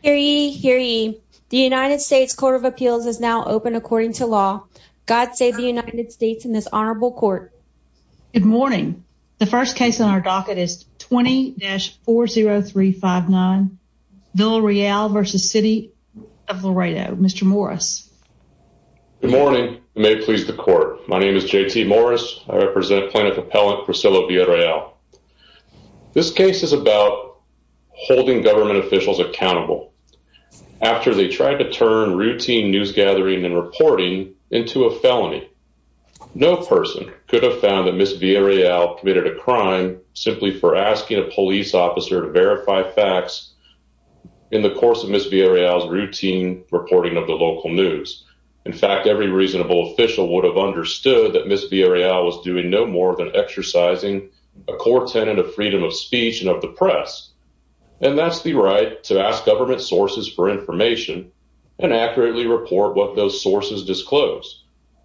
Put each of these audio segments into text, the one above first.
Hear ye, hear ye. The United States Court of Appeals is now open according to law. God save the United States in this honorable court. Good morning. The first case on our docket is 20-40359 Villarreal v. City of Laredo. Mr. Morris. Good morning. May it please the court. My name is J.T. Morris. I represent plaintiff appellant Villarreal. This case is about holding government officials accountable after they tried to turn routine news gathering and reporting into a felony. No person could have found that Ms. Villarreal committed a crime simply for asking a police officer to verify facts in the course of Ms. Villarreal's routine reporting of the local news. In fact, every reasonable official would have understood that Ms. Villarreal was doing no more than exercising a core tenet of freedom of speech and of the press. And that's the right to ask government sources for information and accurately report what those sources disclose.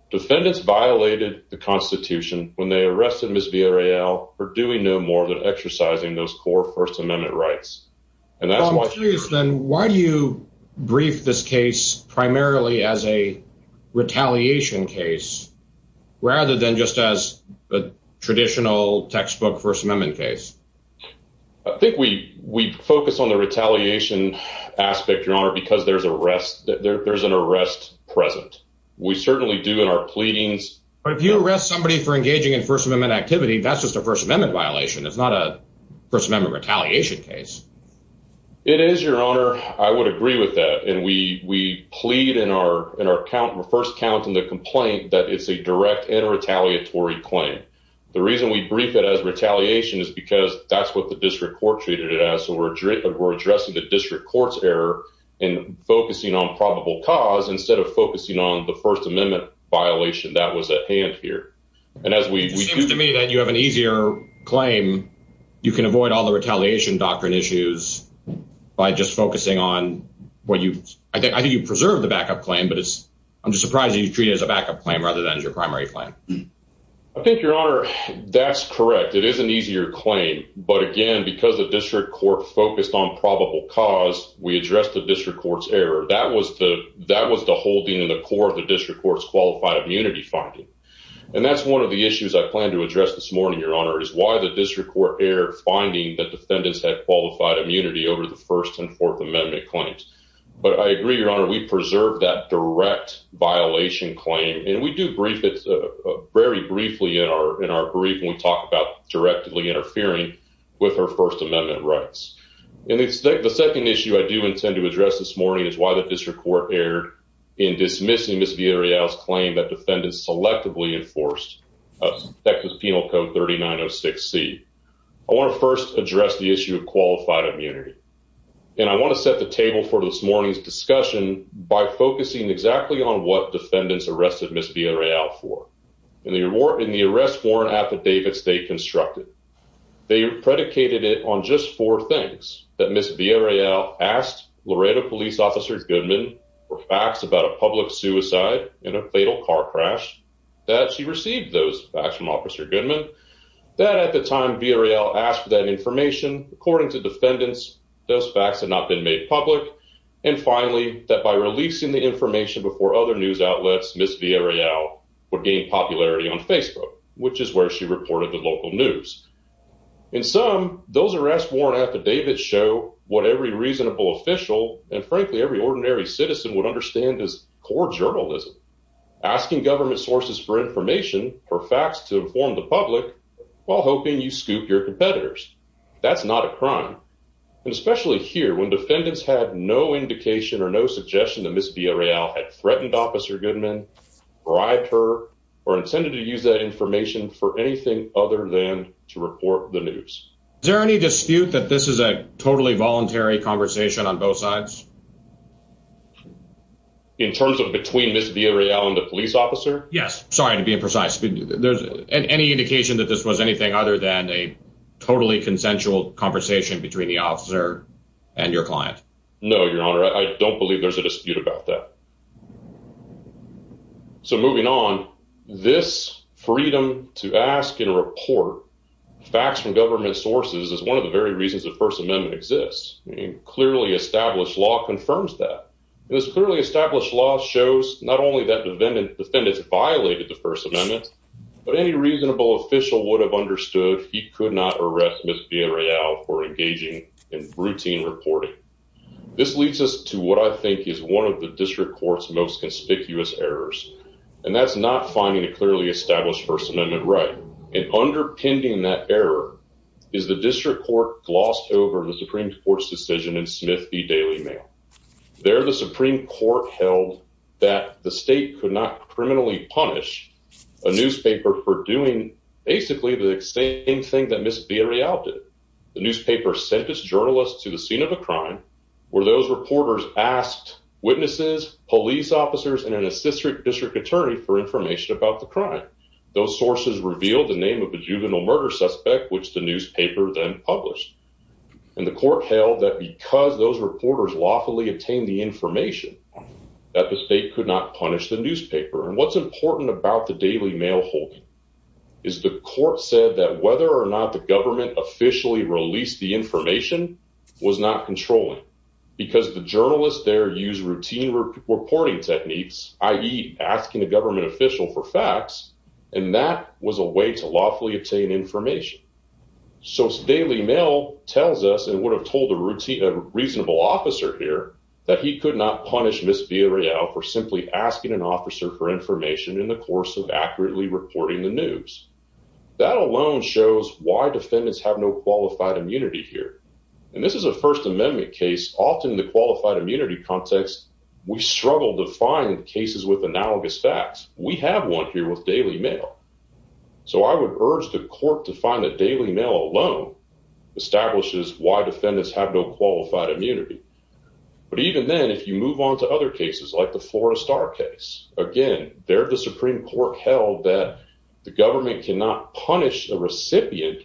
Defendants violated the Constitution when they arrested Ms. Villarreal for doing no more than exercising those core First Amendment rights. I think we focus on the retaliation aspect, Your Honor, because there's an arrest present. We certainly do in our pleadings. But if you arrest somebody for engaging in First Amendment activity, that's just a First Amendment violation. It's not a First Amendment retaliation case. It is, Your Honor. I would agree with that. And we complain that it's a direct and retaliatory claim. The reason we brief it as retaliation is because that's what the district court treated it as. So we're addressing the district court's error in focusing on probable cause instead of focusing on the First Amendment violation that was at hand here. It seems to me that you have an easier claim. You can avoid all the retaliation doctrine issues by just focusing on what you... I think you preserved the backup claim, but I'm surprised that you treat it as a backup claim rather than as your primary claim. I think, Your Honor, that's correct. It is an easier claim. But again, because the district court focused on probable cause, we addressed the district court's error. That was the holding in the core of the district court's qualified immunity finding. And that's one of the issues I plan to address this morning, Your Honor, is why the district court erred finding that defendants had qualified immunity over the First and Fourth Amendment claims. But I agree, Your Honor, that's a violation claim. And we do brief it very briefly in our brief when we talk about directly interfering with our First Amendment rights. And the second issue I do intend to address this morning is why the district court erred in dismissing Ms. Villarreal's claim that defendants selectively enforced effective Penal Code 3906C. I want to first address the issue of qualified immunity. And I want to set the table for this morning's discussion by focusing exactly on what defendants arrested Ms. Villarreal for in the arrest warrant affidavits they constructed. They predicated it on just four things, that Ms. Villarreal asked Laredo Police Officer Goodman for facts about a public suicide and a fatal car crash, that she received those facts from Officer Goodman, that at the time Villarreal asked for that information, according to defendants, those facts had not been made public, and finally, that by releasing the information before other news outlets, Ms. Villarreal would gain popularity on Facebook, which is where she reported the local news. In sum, those arrest warrant affidavits show what every reasonable official, and frankly, every ordinary citizen would understand as core journalism, asking government sources for information, for facts to inform the public, while hoping you scoop your competitors. That's not a and especially here, when defendants had no indication or no suggestion that Ms. Villarreal had threatened Officer Goodman, bribed her, or intended to use that information for anything other than to report the news. Is there any dispute that this is a totally voluntary conversation on both sides? In terms of between Ms. Villarreal and the police officer? Yes, sorry to be imprecise, there's any indication that this was anything other than a totally consensual conversation between the officer and your client? No, Your Honor, I don't believe there's a dispute about that. So, moving on, this freedom to ask and report facts from government sources is one of the very reasons the First Amendment exists. I mean, clearly established law confirms that. This clearly established law shows not only that defendants violated the First Amendment, but any reasonable official would have understood he could not arrest Ms. Villarreal for engaging in routine reporting. This leads us to what I think is one of the District Court's most conspicuous errors, and that's not finding a clearly established First Amendment right. And underpinning that error is the District Court glossed over the Supreme Court's decision in Smith v. Daily Mail. There, the Supreme Court held that the state could not criminally punish a newspaper for doing basically the same thing that Ms. Villarreal did. The newspaper sent its journalist to the scene of a crime where those reporters asked witnesses, police officers, and an assistant district attorney for information about the crime. Those sources revealed the name of the juvenile murder suspect, which the newspaper then published. And the court held that because those reporters lawfully obtained the information, that the state could not punish the newspaper. And what's important about the court said that whether or not the government officially released the information was not controlling because the journalists there use routine reporting techniques, i.e. asking a government official for facts, and that was a way to lawfully obtain information. So Daily Mail tells us and would have told a reasonable officer here that he could not punish Ms. Villarreal for asking an officer for information in the course of accurately reporting the news. That alone shows why defendants have no qualified immunity here. And this is a First Amendment case. Often the qualified immunity context, we struggle to find cases with analogous facts. We have one here with Daily Mail. So I would urge the court to find that Daily Mail alone establishes why defendants have no qualified immunity. But even then, if you move on to other cases like the Forrestar case, again, there the Supreme Court held that the government cannot punish a recipient,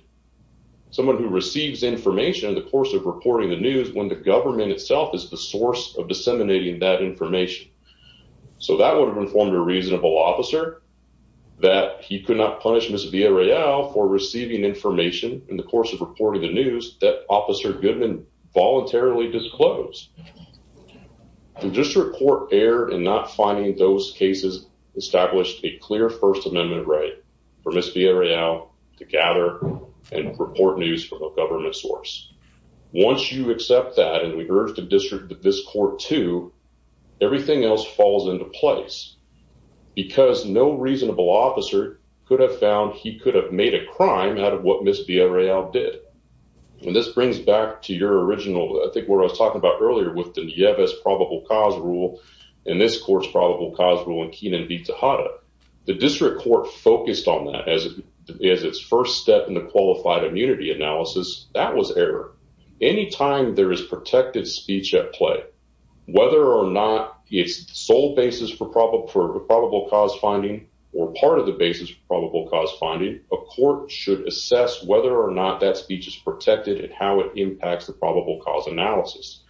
someone who receives information in the course of reporting the news, when the government itself is the source of disseminating that information. So that would have informed a reasonable officer that he could not punish Ms. Villarreal for receiving information in the course of reporting the news that Officer Goodman voluntarily disclosed. The District Court erred in not finding those cases established a clear First Amendment right for Ms. Villarreal to gather and report news from a government source. Once you accept that, and we urge the district that this court too, everything else falls into place. Because no reasonable officer could have found he could have made a crime out of what Ms. Villarreal did. When this brings back to your original, I think what I was talking about earlier with the Nieves probable cause rule, and this court's probable cause rule in Keenan v. Tejada, the District Court focused on that as its first step in the qualified immunity analysis, that was error. Anytime there is protected speech at play, whether or not it's sole basis for probable cause finding, or part of the basis for probable cause finding, a court should assess whether or not that speech is protected and how it impacts the probable cause analysis.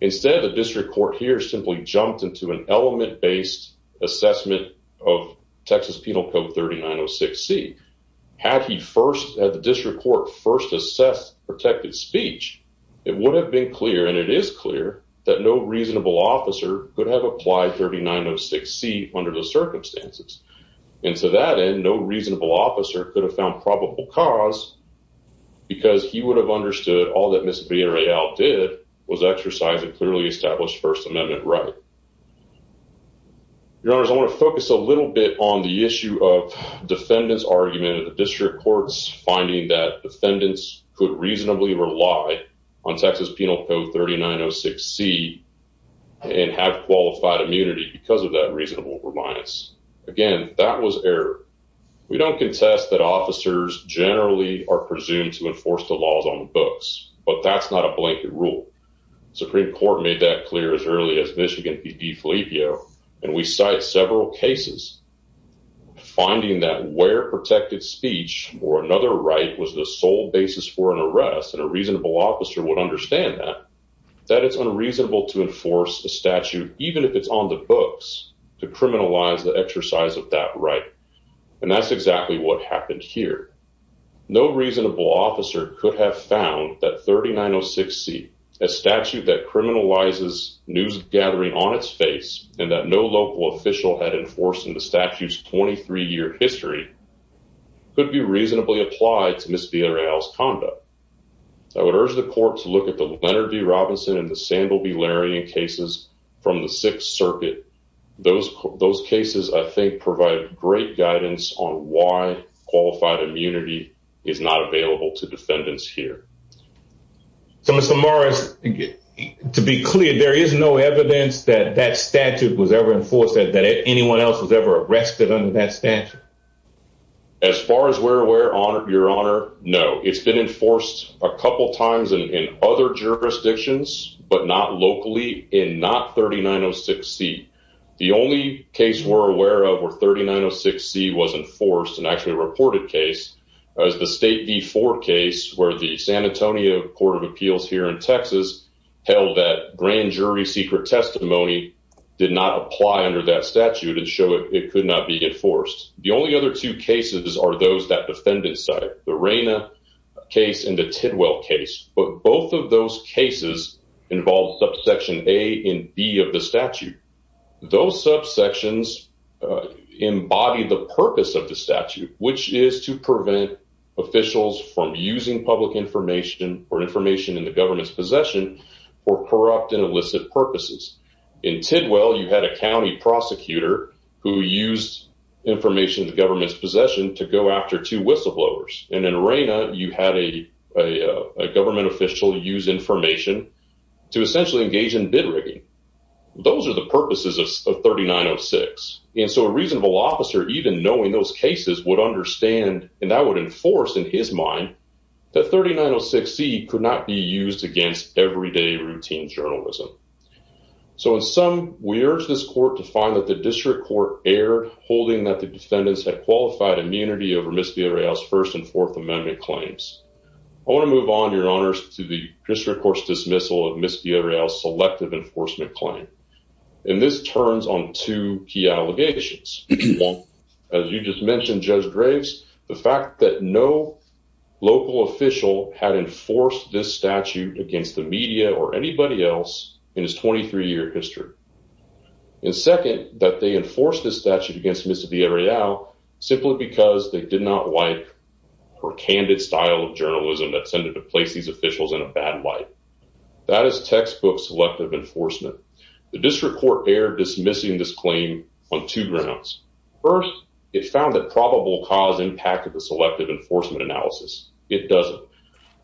Instead, the District Court here simply jumped into an element-based assessment of Texas Penal Code 3906C. Had the District Court first assessed protected speech, it would have been clear, and it is clear, that no reasonable officer could have applied 3906C under the circumstances. And to that end, no reasonable officer could have found probable cause because he would have understood all that Ms. Villarreal did was exercise a clearly established First Amendment right. Your Honors, I want to focus a little bit on the issue of defendants' argument in the District Courts finding that defendants could reasonably rely on Texas Penal Code 3906C and have qualified immunity because of that officers generally are presumed to enforce the laws on the books, but that's not a blanket rule. Supreme Court made that clear as early as Michigan v. DeFilippio, and we cite several cases finding that where protected speech or another right was the sole basis for an arrest, and a reasonable officer would understand that, that it's unreasonable to enforce a statute, even if it's on the books, to criminalize the exercise of that right. And that's exactly what happened here. No reasonable officer could have found that 3906C, a statute that criminalizes news gathering on its face, and that no local official had enforced in the statute's 23-year history, could be reasonably applied to Ms. Villarreal's conduct. I would urge the Court to look at the Robinson and the Sandel v. Larrion cases from the Sixth Circuit. Those cases, I think, provide great guidance on why qualified immunity is not available to defendants here. So, Mr. Morris, to be clear, there is no evidence that that statute was ever enforced, that anyone else was ever arrested under that statute? As far as we're aware, Your Honor, no. It's been enforced under jurisdictions, but not locally, and not 3906C. The only case we're aware of where 3906C wasn't enforced, and actually a reported case, was the State v. Ford case, where the San Antonio Court of Appeals here in Texas held that grand jury secret testimony did not apply under that statute and show it could not be enforced. The only other two cases are those that defendant cited, the Reyna case and the Tidwell case, but both of those cases involved subsection A and B of the statute. Those subsections embody the purpose of the statute, which is to prevent officials from using public information or information in the government's possession for corrupt and illicit purposes. In Tidwell, you had a county prosecutor who used information the government's possession to go after two whistleblowers, and in Reyna, you had a government official use information to essentially engage in bid rigging. Those are the purposes of 3906, and so a reasonable officer, even knowing those cases, would understand, and that would enforce in his mind, that 3906C could not be used against everyday routine journalism. So in sum, we urge this court to find that the district court erred, holding that the defendants had qualified immunity over Ms. Villarreal's First and Fourth Amendment claims. I want to move on, Your Honors, to the district court's dismissal of Ms. Villarreal's selective enforcement claim, and this turns on two key allegations. One, as you just mentioned, Judge Graves, the fact that no local official had enforced this statute against the media or anybody else in his 23-year history, and second, that they enforced this statute against Ms. Villarreal simply because they did not like her candid style of journalism that tended to place these officials in a bad light. That is textbook selective enforcement. The district court erred dismissing this claim on two grounds. First, it found that probable cause impacted the selective enforcement analysis. It doesn't.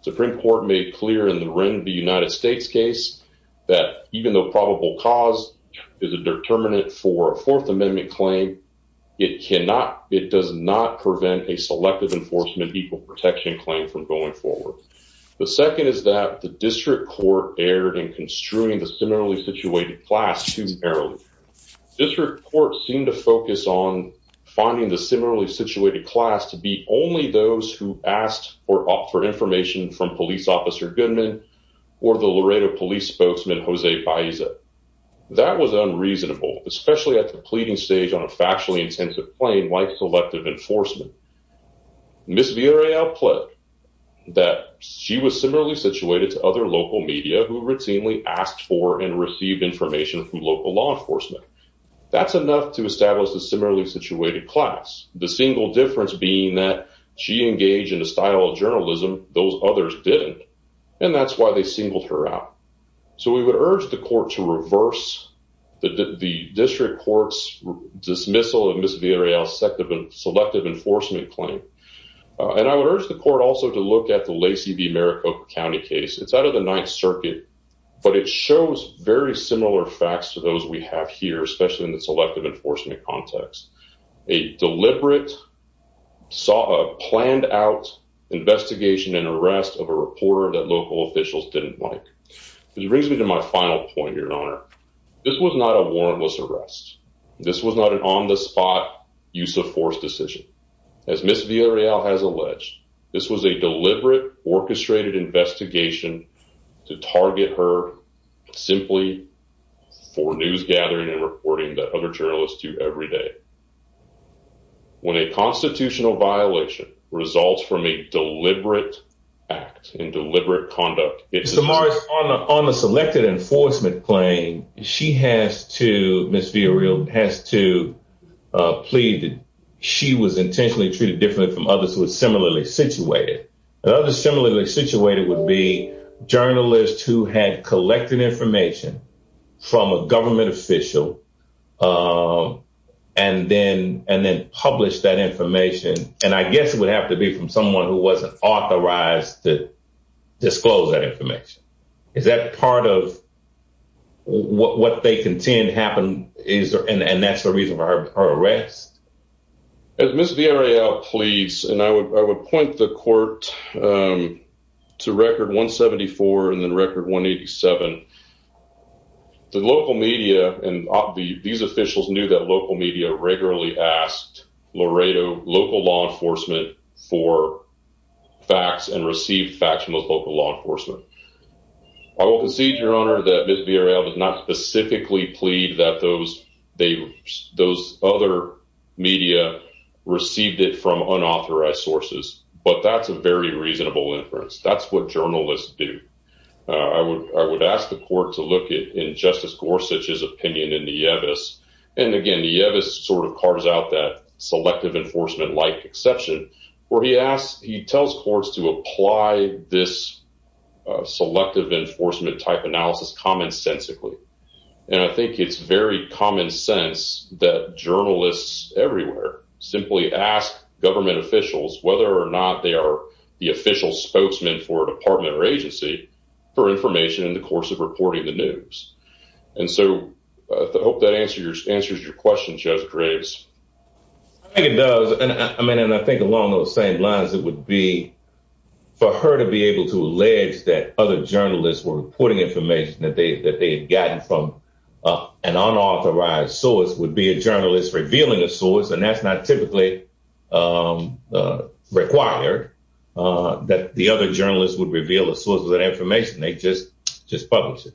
The Supreme Court made clear in the Wren v. United States case that even though probable cause is a determinant for a Fourth Amendment claim, it does not prevent a selective enforcement equal protection claim from going forward. The second is that the district court erred in construing the similarly situated class too narrowly. District courts seem to focus on finding the similarly situated class to be only those who asked or offered information from police officer Goodman or the Laredo police spokesman Jose Baeza. That was unreasonable, especially at the pleading stage on a factually intensive claim like selective enforcement. Ms. Villarreal pled that she was similarly situated to other local media who routinely asked for and received information from local law enforcement. That's enough to establish the similarly situated class. The single difference being that she engaged in a style of journalism those others didn't. That's why they singled her out. We would urge the court to reverse the district court's dismissal of Ms. Villarreal's selective enforcement claim. I would urge the court also to look at the Lacey v. Maricopa County case. It's out of the Ninth Circuit, but it shows very similar facts to those we have here, especially in the selective enforcement context. A deliberate, planned-out investigation and arrest of a reporter that local officials didn't like. This brings me to my final point, Your Honor. This was not a warrantless arrest. This was not an on-the-spot, use-of-force decision. As Ms. Villarreal has alleged, this was a deliberate, orchestrated investigation to target her simply for news gathering and reporting that other journalists do every day. When a constitutional violation results from a deliberate act and deliberate conduct, it's... Mr. Morris, on the selected enforcement claim, she has to, Ms. Villarreal, has to plead that she was intentionally treated differently from others who are similarly situated. And others similarly situated would be journalists who had collected information from a government official and then published that information. And I guess it would have to be from someone who wasn't authorized to disclose that information. Is that part of what they contend happened? And that's the reason for her arrest? As Ms. Villarreal pleads, and I would point the court to Record 174 and then Record 187, the local media and these officials knew that local media regularly asked Laredo local law enforcement for facts and received facts from those local law enforcement. I will concede, Your Honor, that Ms. Villarreal did not specifically plead that those other media received it from unauthorized sources. But that's a very reasonable inference. That's what journalists do. I would ask the court to look at Justice Gorsuch's opinion in Nieves. And again, Nieves sort of carves out that selective enforcement-like exception where he tells courts to apply this selective enforcement-type analysis commonsensically. And I think it's very common sense that journalists everywhere simply ask government officials, whether or not they are the official spokesman for a department or agency, for information in the course of reporting the news. And so I hope that answers your question, Judge Graves. I think it does. And I mean, and I think along those same lines, it would be for her to be able to allege that other journalists were reporting information that they had gotten from an unauthorized source would be a journalist revealing a source. And that's not typically required that the other journalists would reveal the source of that information. They just publish it.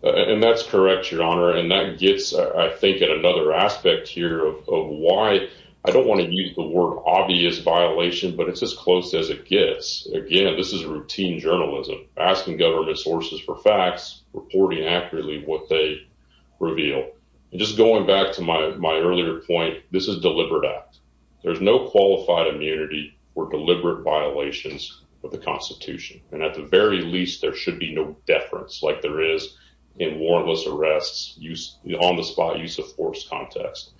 And that's correct, Your Honor. And that gets, I think, at another aspect here of why I don't want to use the word obvious violation, but it's as close as it gets. Again, this is routine journalism, asking government sources for facts, reporting accurately what they reveal. And just going back to my earlier point, this is a deliberate act. There's no qualified immunity for deliberate violations of the Constitution. And at the very least, there should be no deference like there is in warrantless arrests, on-the-spot use-of-force context.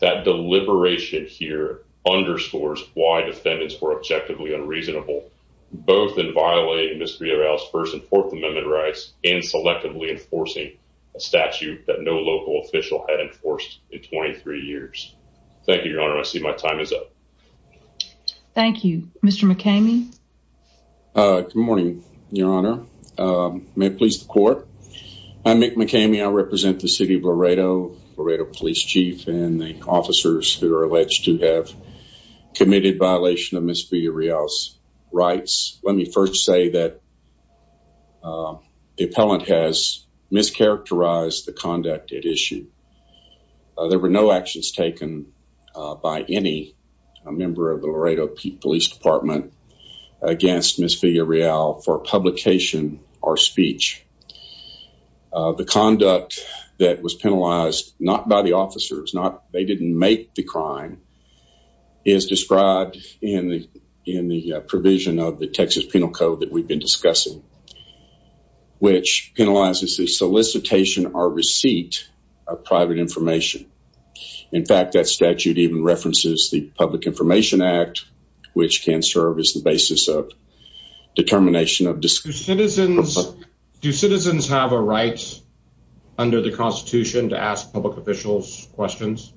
That deliberation here underscores why defendants were objectively unreasonable, both in violating Misdreavous First and Fourth Amendment rights and selectively enforcing a statute that no local official had enforced in 23 years. Thank you, Your Honor. I see my time is up. Thank you. Mr. McCamey? Good morning, Your Honor. May it please the Court? I'm Mick McCamey. I represent the City of Laredo, Laredo Police Chief, and the officers who are alleged to have committed violation of Ms. Villarreal's rights. Let me first say that the appellant has mischaracterized the conduct at issue. There were no actions taken by any member of the Laredo Police Department against Ms. Villarreal for publication or speech. The conduct that was penalized, not by the officers, they didn't make the crime, is described in the provision of the Texas Penal Code that we've been discussing, which penalizes the solicitation or receipt of private information. In fact, that statute even references the Public Information Act, which can serve as the basis of determination of... Do citizens have a right under the Constitution to ask public officials questions?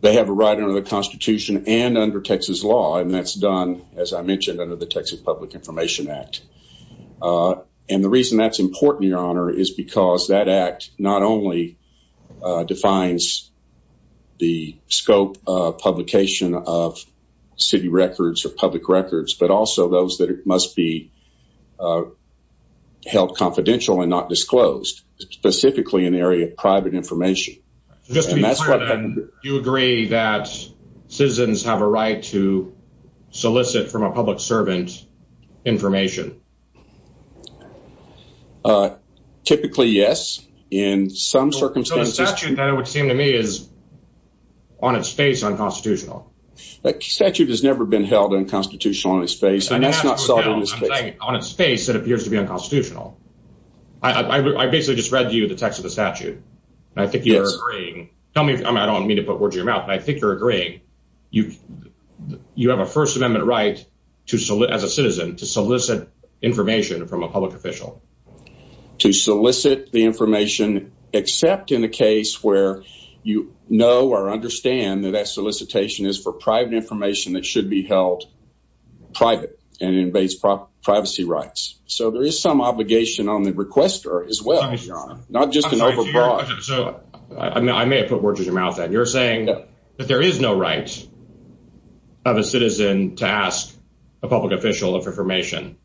They have a right under the Constitution and under Texas law, and that's done, as I mentioned, under the Texas Public Information Act. And the reason that's important, Your Honor, is because that act not only defines the scope of publication of city records or public records, but also those that must be held confidential and not disclosed, specifically in the area of private information. Just to be clear then, you agree that citizens have a right to solicit from a public servant information? Typically, yes. In some circumstances... So the statute, then, it would seem to me, is on its face unconstitutional. The statute has never been held unconstitutional on its face, and that's not solved in this case. On its face, it appears to be unconstitutional. I basically just read to you the text of the statute, and I think you're agreeing. Tell me, I don't mean to put words in your mouth, but I think you're agreeing. You have a First Amendment right, as a citizen, to solicit information from a public official. To solicit the information, except in the case where you know or understand that that solicitation is for private information that should be held private, and it invades privacy rights. So there is some obligation on the requester, as well, Your Honor. Not just an overbought... I may have put words in your mouth then. You're saying that there is no right of a citizen to ask a public official of information.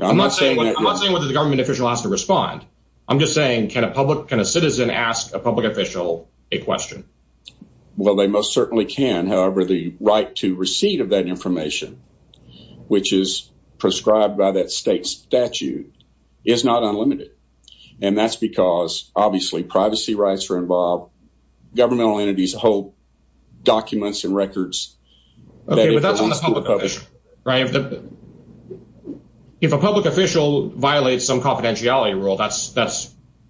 I'm not saying whether the government official has to respond. I'm just saying, can a citizen ask a public official a question? Well, they most certainly can. However, the right to receive that information, which is prescribed by that state statute, is not unlimited. And that's because, obviously, privacy rights are involved. Governmental entities hold documents and records. Okay, but that's on the public official, right? If a public official violates some confidentiality rule, that's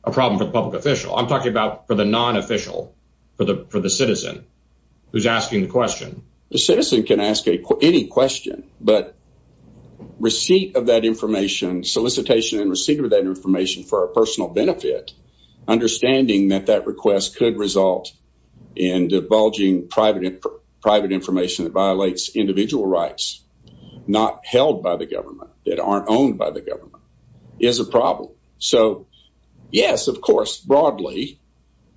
a problem for the public official. I'm talking about for the non-official, for the citizen who's asking the question. The citizen can ask any question, but receipt of that information, solicitation and receipt of that information for a personal benefit, understanding that that request could result in divulging private information that violates individual rights, not held by the government, that aren't owned by the government, is a problem. So, yes, of course, broadly,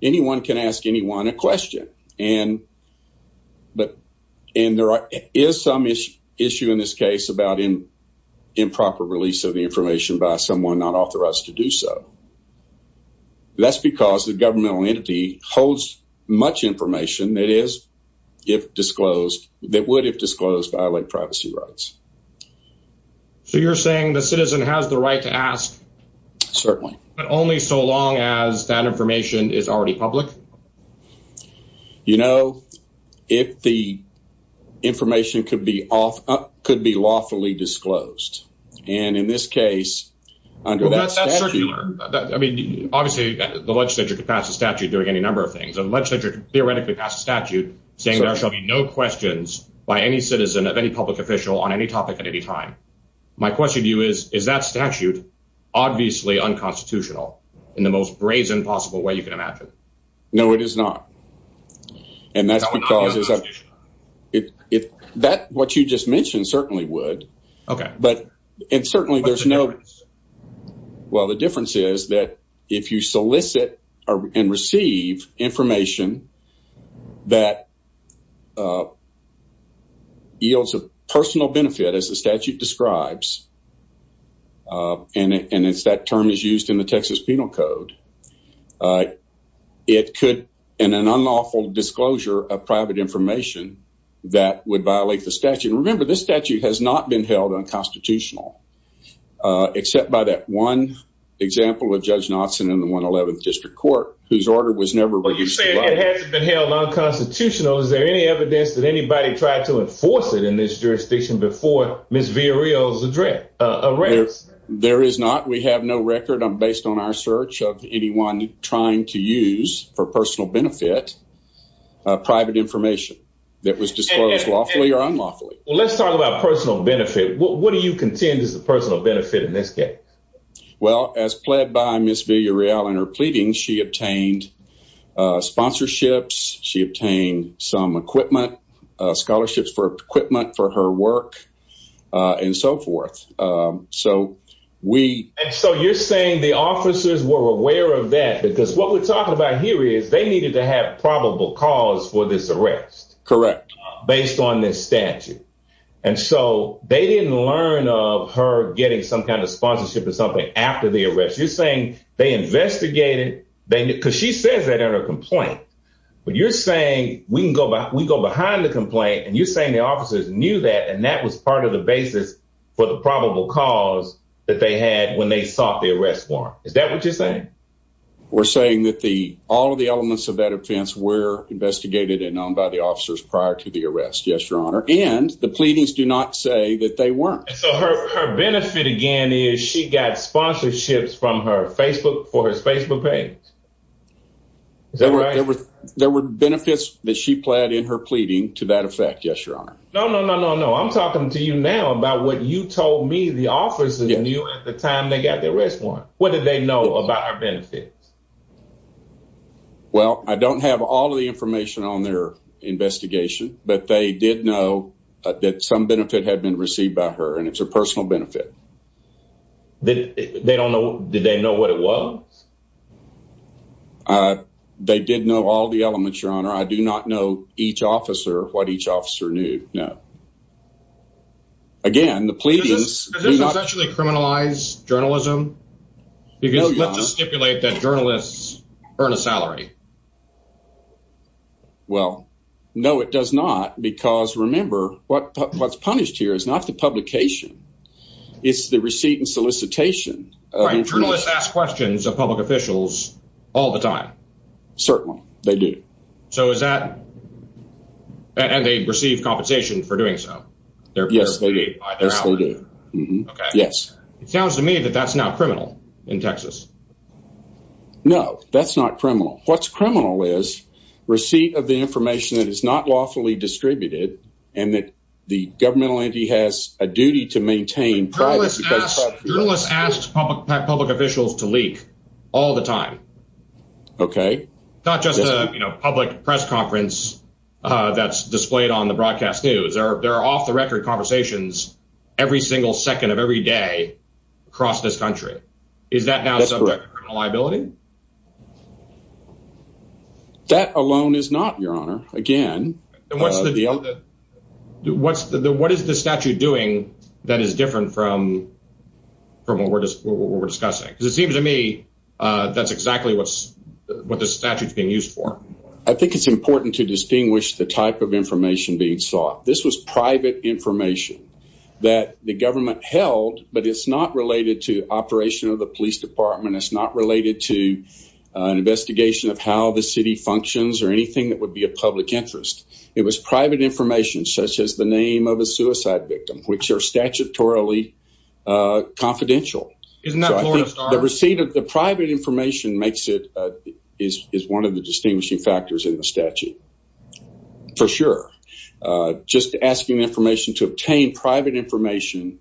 anyone can ask anyone a question. And there is some issue in this case about improper release of the information by someone not authorized to do so. That's because the governmental entity holds much information that is, if disclosed, that would, if disclosed, violate privacy rights. So, you're saying the citizen has the right to ask? Certainly. But only so long as that information is already public? You know, if the information could be lawfully disclosed. And in this case, under that statute... Well, that's circular. I mean, obviously, the legislature could pass a statute doing any number of things. A legislature could theoretically pass a statute saying there shall be no questions by any citizen of any public official on any topic at any time. My question to you is, is that statute obviously unconstitutional in the most brazen possible way you can imagine? No, it is not. And that's because... That, what you just mentioned, certainly would. Okay. But, and certainly there's no... Well, the difference is that if you solicit and receive information that yields a personal benefit, as the statute describes, and that term is used in the Texas Penal Code, it could, in an unlawful disclosure of private information, that would violate the statute. And remember, this statute has not been held unconstitutional, except by that one example of Judge Knotson in the 111th District Court, whose order was never... But you're saying it hasn't been held unconstitutional. Is there any evidence that anybody tried to enforce it in this jurisdiction before Ms. Villarreal's arrest? There is not. We have no record, based on our search, of anyone trying to use, for personal benefit, private information that was disclosed lawfully or unlawfully. Well, let's talk about personal benefit. What do you contend is the personal benefit in this case? Well, as pled by Ms. Villarreal in her pleadings, she obtained sponsorships, she obtained some equipment, scholarships for equipment for her work, and so forth. So, we... And so, you're saying the officers were aware of that, because what we're talking about here is, they needed to have probable cause for this arrest. Correct. Based on this statute. And so, they didn't learn of her getting some kind of sponsorship or something after the arrest. You're saying they investigated... Because she says that in her complaint. But you're saying, we go behind the complaint, and you're saying the officers knew that, and that was part of the basis for the probable cause that they had when they sought the arrest warrant. Is that what you're saying? We're saying that all of the elements of that offense were investigated and known by the officers prior to the arrest. Yes, Your Honor. And the pleadings do not say that they weren't. So, her benefit, again, is she got sponsorships from her Facebook, for her Facebook page. Is that right? There were benefits that she pled in her pleading, to that effect. Yes, Your Honor. No, no, no, no, no. I'm talking to you now about what you told me the officers knew at the time they got the arrest warrant. What did they know about her benefits? Well, I don't have all the information on their investigation, but they did know that some benefit had been received by her, and it's a personal benefit. They don't know... Did they know what it was? They did know all the elements, Your Honor. I do not know each officer, what each officer knew. No. Again, the pleadings... Does this essentially criminalize journalism? No, Your Honor. Because let's just stipulate that journalists earn a salary. Well, no, it does not, because remember, what's punished here is not the publication, it's the receipt and solicitation. Right, journalists ask questions of public officials all the time. Certainly, they do. So is that... And they receive compensation for doing so? Yes, they do. Okay. Yes. It sounds to me that that's not criminal in Texas. No, that's not criminal. What's criminal is receipt of the information that is not lawfully distributed and that the governmental entity has a duty to maintain privacy. Journalists ask public officials to leak all the time. Okay. Not just a public press conference that's displayed on the broadcast news. There are off-the-record conversations every single second of every day across this country. Is that now subject to criminal liability? That alone is not, Your Honor. Again... What is the statute doing that is different from what we're discussing? Because it seems to me that's exactly what the statute is being used for. I think it's important to distinguish the type of information being sought. This was private information that the government held, but it's not related to operation of the police department. It's not related to an investigation of how the city functions or anything that would be of public interest. It was private information, such as the name of a suicide victim, which are statutorily confidential. Isn't that Florida Star? The receipt of the private information is one of the distinguishing factors in the statute, for sure. Just asking information to obtain private information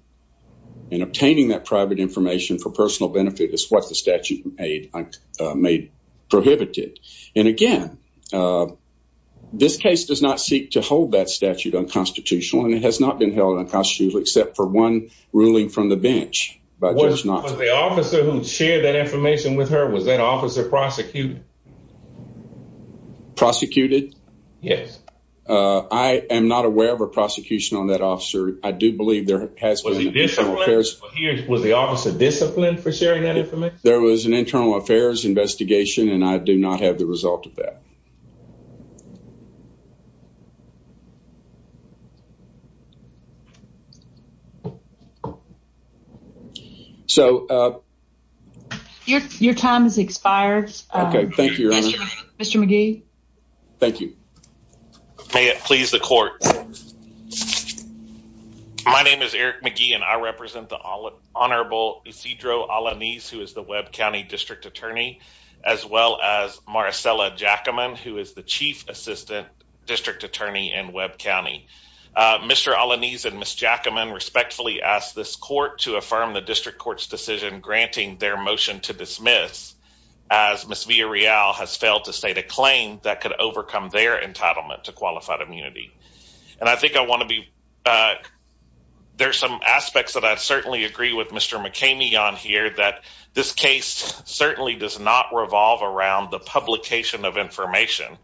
and obtaining that private information for personal benefit is what the statute made prohibited. And again, this case does not seek to hold that statute unconstitutional, and it has not been held unconstitutional except for one ruling from the bench. Was the officer who shared that information with her, was that officer prosecuted? Prosecuted? Yes. I am not aware of a prosecution on that officer. I do believe there has been... Was he disciplined? Was the officer disciplined for sharing that information? There was an internal affairs investigation, and I do not have the result of that. So... Your time has expired. Okay, thank you, Your Honor. Mr. McGee. Thank you. May it please the court. My name is Eric McGee, and I represent the Honorable Isidro Alaniz, who is the Webb County District Attorney, as well as Maricela Jackaman, who is the Chief Assistant District Attorney in Webb County. Mr. Alaniz and Ms. Jackaman respectfully ask this court to affirm the district court's decision granting their motion to dismiss, as Ms. Villarreal has failed to state a claim that could overcome their entitlement to qualified immunity. And I think I want to be... There's some aspects that I certainly agree with Mr. McKamey on here, that this case certainly does not revolve around the publication of information,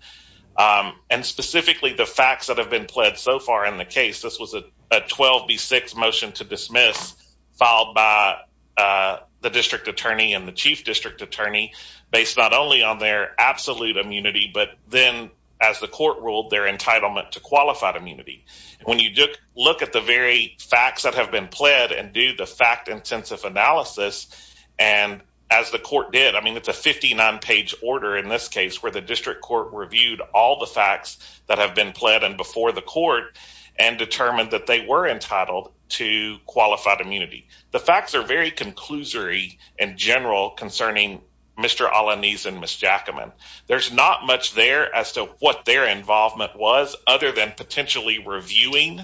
and specifically the facts that have been pled so far in the case. This was a 12B6 motion to dismiss, filed by the District Attorney and the Chief District Attorney, based not only on their absolute immunity, but then, as the court ruled, their entitlement to qualified immunity. When you look at the very facts that have been pled, and do the fact-intensive analysis, and as the court did, I mean, it's a 59-page order in this case, where the district court reviewed all the facts that have been pled, and before the court, and determined that they were entitled to qualified immunity. The facts are very conclusory and general, concerning Mr. Alaniz and Ms. Jackaman. There's not much there as to what their involvement was, other than potentially reviewing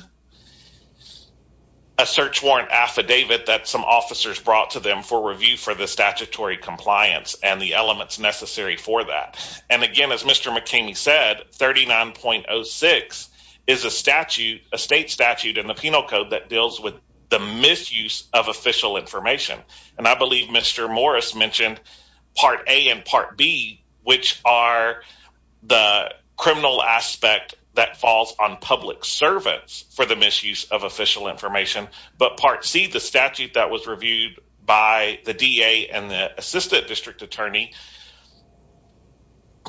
a search warrant affidavit that some officers brought to them for review for the statutory compliance, and the elements necessary for that. Again, as Mr. McKamey said, 39.06 is a statute, a state statute in the Penal Code, that deals with the misuse of official information. I believe Mr. Morris mentioned Part A and Part B, which are the criminal aspect that falls on public servants for the misuse of official information, but Part C, the statute that was reviewed by the DA and the Assistant District Attorney,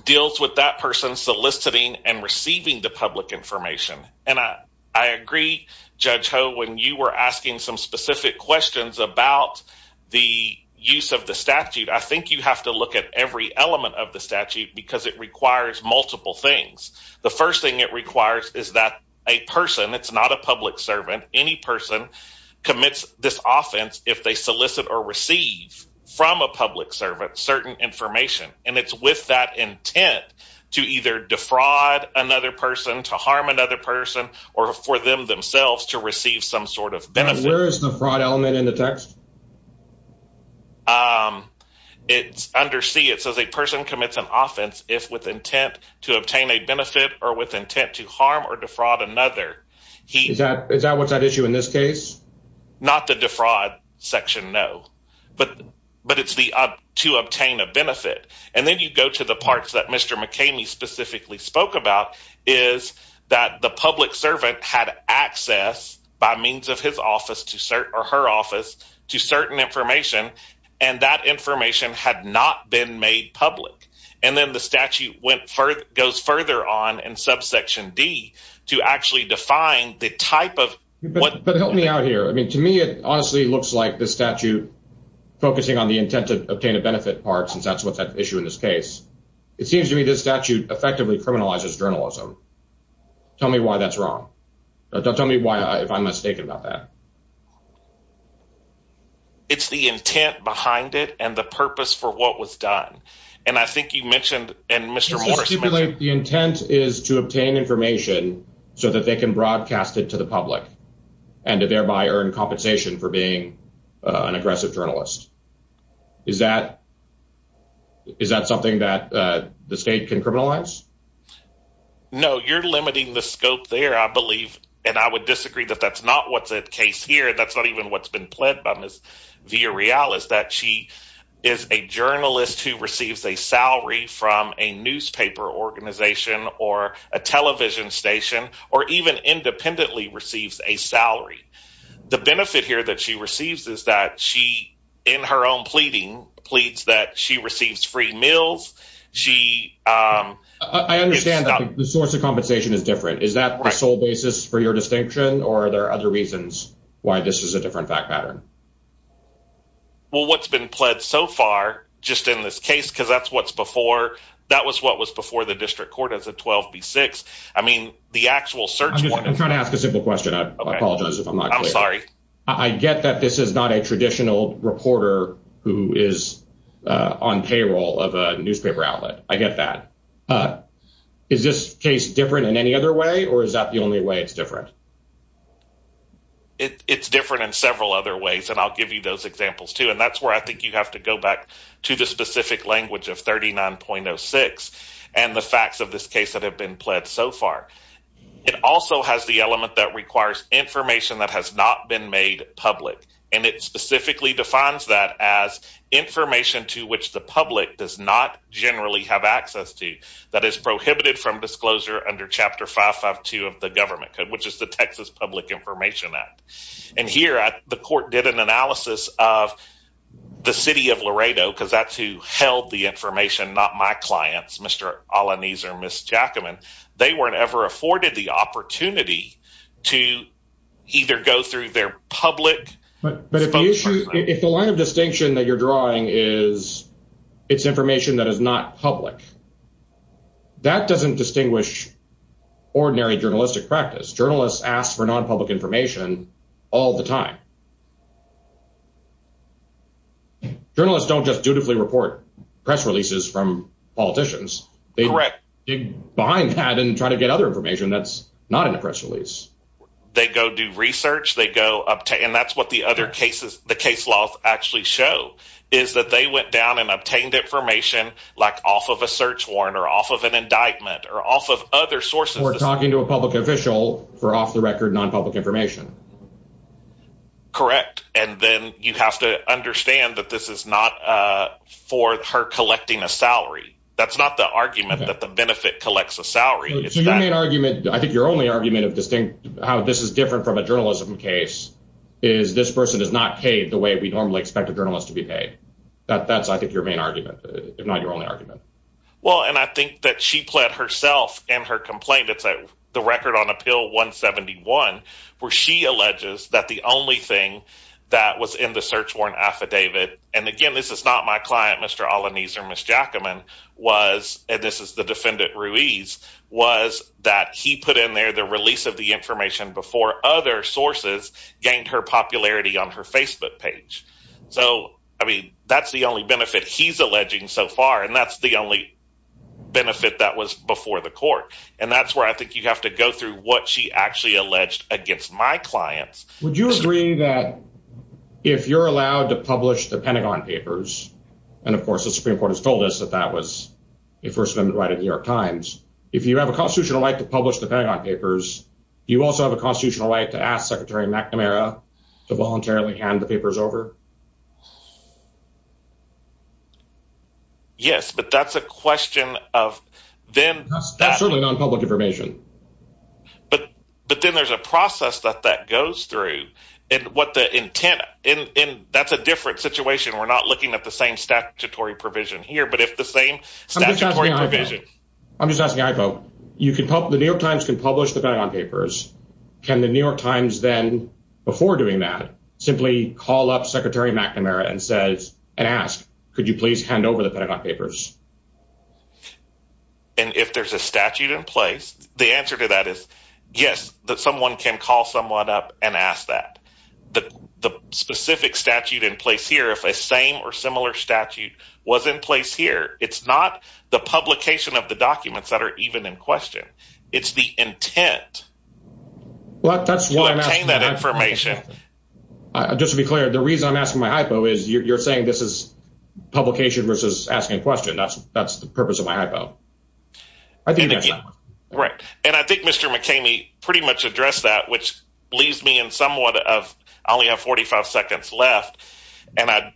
deals with that person soliciting and receiving the public information, and I agree, Judge Ho, when you were asking some specific questions about the use of the statute, I think you have to look at every element of the statute, because it requires multiple things. The first thing it requires is that a person, it's not a public servant, any person commits this offense if they solicit or receive from a public servant certain information, and it's with that intent to either defraud another person, to harm another person, or for them themselves to receive some sort of benefit. Where is the fraud element in the text? It's under C, it says a person commits an offense if with intent to obtain a benefit or with intent to harm or defraud another. Is that what's at issue in this case? but it's the to obtain a benefit. And then you go to the parts that Mr. McKamey specifically spoke about, is that the public servant had access by means of his office to cert, or her office to certain information, and that information had not been made public. And then the statute went further, goes further on in subsection D to actually define the type of... But help me out here. I mean, to me, it honestly looks like the statute focusing on the intent to obtain a benefit part, since that's what's at issue in this case. It seems to me this statute effectively criminalizes journalism. Tell me why that's wrong. Don't tell me why, if I'm mistaken about that. It's the intent behind it and the purpose for what was done. And I think you mentioned, and Mr. Morris mentioned... The intent is to obtain information so that they can broadcast it to the public and to thereby earn compensation for being an aggressive journalist. Is that something that the state can criminalize? No, you're limiting the scope there, I believe. And I would disagree that that's not what's at case here, and that's not even what's been pled by Ms. Villareal, is that she is a journalist who receives a salary from a newspaper organization or a television station, or even independently receives a salary. The benefit here that she receives is that she, in her own pleading, pleads that she receives free meals. I understand that the source of compensation is different. Is that the sole basis for your distinction? Or are there other reasons why this is a different fact pattern? Well, what's been pled so far, just in this case, because that's what's before... That was what was before the district court as a 12B6. I mean, the actual search... I'm trying to ask a simple question. I apologize if I'm not clear. I'm sorry. I get that this is not a traditional reporter who is on payroll of a newspaper outlet. I get that. Is this case different in any other way, or is that the only way it's different? It's different in several other ways, and I'll give you those examples too. And that's where I think you have to go back to the specific language of 39.06 and the facts of this case that have been pled so far. It also has the element that requires information that has not been made public, and it specifically defines that as information to which the public does not generally have access to, that is prohibited from disclosure under Chapter 552 of the government code, which is the Texas Public Information Act. And here, the court did an analysis of the city of Laredo, because that's who held the information, not my clients, Mr. Alaniz or Ms. Jackaman. They weren't ever afforded the opportunity to either go through their public- But if the line of distinction that you're drawing is it's information that is not public, that doesn't distinguish ordinary journalistic practice. Journalists ask for non-public information all the time. Journalists don't just dutifully report press releases from politicians. Correct. They dig behind that and try to get other information that's not in a press release. They go do research, they go obtain- and that's what the other cases, the case laws actually show, is that they went down and obtained information like off of a search warrant or off of an indictment or off of other sources- Or talking to a public official for off-the-record non-public information. Correct. And then you have to understand that this is not for her collecting a salary. That's not the argument that the benefit collects a salary. So your main argument- I think your only argument of distinct- how this is different from a journalism case is this person is not paid the way we normally expect a journalist to be paid. That's, I think, your main argument, if not your only argument. Well, and I think that she pled herself in her complaint. It's the record on Appeal 171 where she alleges that the only thing that was in the search warrant affidavit- and again, this is not my client, Mr. Alaniz or Ms. Jackaman- was- and this is the defendant Ruiz- was that he put in there the release of the information before other sources gained her popularity on her Facebook page. So, I mean, that's the only benefit he's alleging so far. And that's the only benefit that was before the court. And that's where I think you have to go through what she actually alleged against my clients. Would you agree that if you're allowed to publish the Pentagon Papers and, of course, the Supreme Court has told us that that was a First Amendment right in the New York Times, if you have a constitutional right to publish the Pentagon Papers, you also have a constitutional right to ask Secretary McNamara to voluntarily hand the papers over? Yes, but that's a question of then- That's certainly non-public information. But then there's a process that that goes through and what the intent- that's a different situation. We're not looking at the same statutory provision here, but if the same statutory provision- I'm just asking, Ivo. You can- The New York Times can publish the Pentagon Papers. Can the New York Times then, before doing that, simply call up Secretary McNamara and says- and ask, could you please hand over the Pentagon Papers? And if there's a statute in place, the answer to that is yes, that someone can call someone up and ask that. But the specific statute in place here, if a same or similar statute was in place here, it's not the publication of the documents that are even in question. It's the intent- Well, that's why I'm asking- To obtain that information. Just to be clear, the reason I'm asking my hypo is you're saying this is publication versus asking a question. That's the purpose of my hypo. I think that's my question. Right. And I think Mr. McKamey pretty much addressed that, which leaves me in somewhat of- I only have 45 seconds left. And I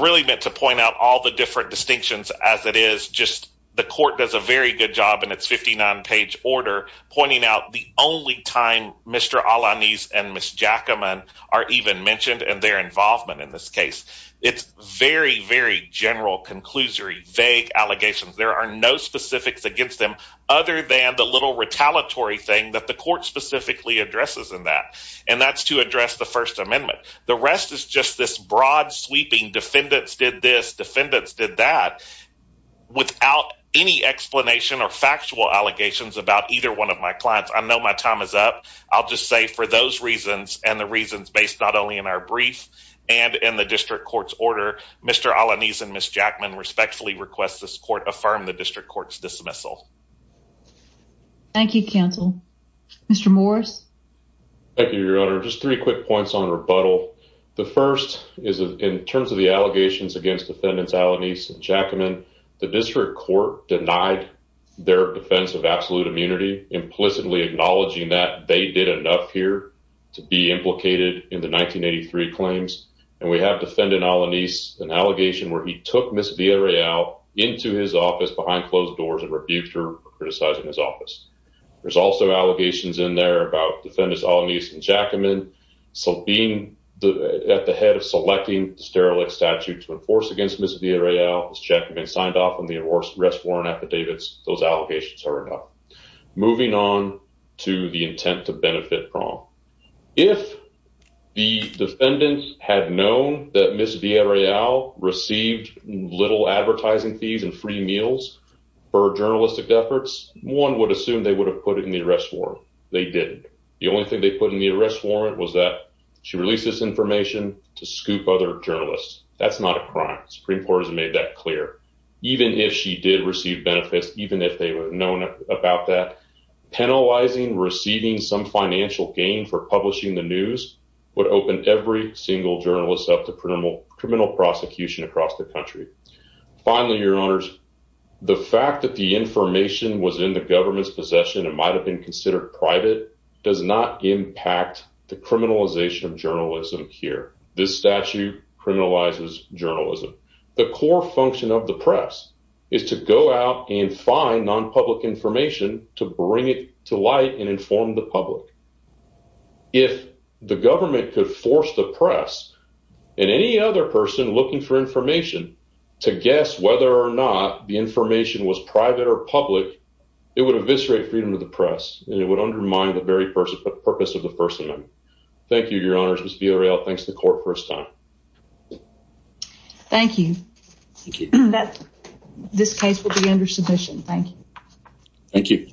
really meant to point out all the different distinctions as it is. Just the court does a very good job in its 59-page order, pointing out the only time Mr. Alanis and Ms. Jackaman are even mentioned and their involvement in this case. It's very, very general, conclusory, vague allegations. There are no specifics against them other than the little retaliatory thing that the court specifically addresses in that. And that's to address the First Amendment. The rest is just this broad sweeping defendants did this, defendants did that, without any explanation or factual allegations about either one of my clients. I know my time is up. I'll just say for those reasons and the reasons based not only in our brief and in the district court's order, Mr. Alanis and Ms. Jackman respectfully request this court affirm the district court's dismissal. Thank you, counsel. Mr. Morris. Thank you, Your Honor. Just three quick points on rebuttal. The first is in terms of the allegations against defendants Alanis and Jackman, the district court denied their defense of absolute immunity, implicitly acknowledging that they did enough here to be implicated in the 1983 claims. And we have defendant Alanis, an allegation where he took Ms. Villarreal into his office behind closed doors and rebuked her criticizing his office. There's also allegations in there about defendants Alanis and Jackman still being at the head of selecting the sterilex statute to enforce against Ms. Villarreal. Ms. Jackman signed off on the arrest warrant affidavits. Those allegations are enough. Moving on to the intent to benefit prom. If the defendant had known that Ms. Villarreal received little advertising fees and free meals for journalistic efforts, one would assume they would have put it in the arrest warrant. They didn't. The only thing they put in the arrest warrant was that she released this information to scoop other journalists. That's not a crime. Supreme Court has made that clear. Even if she did receive benefits, even if they were known about that, penalizing receiving some financial gain for publishing the news would open every single journalist up to criminal prosecution across the country. Finally, your honors, the fact that the information was in the government's possession, it might have been considered private, does not impact the criminalization of journalism here. This statute criminalizes journalism. The core function of the press is to go out and find non-public information to bring it to light and inform the public. If the government could force the press and any other person looking for information to guess whether or not the information was private or public, it would eviscerate freedom of the press and it would undermine the very purpose of the First Amendment. Thank you, your honors. Ms. Villareal thanks the court for his time. Thank you. This case will be under submission. Thank you. Thank you.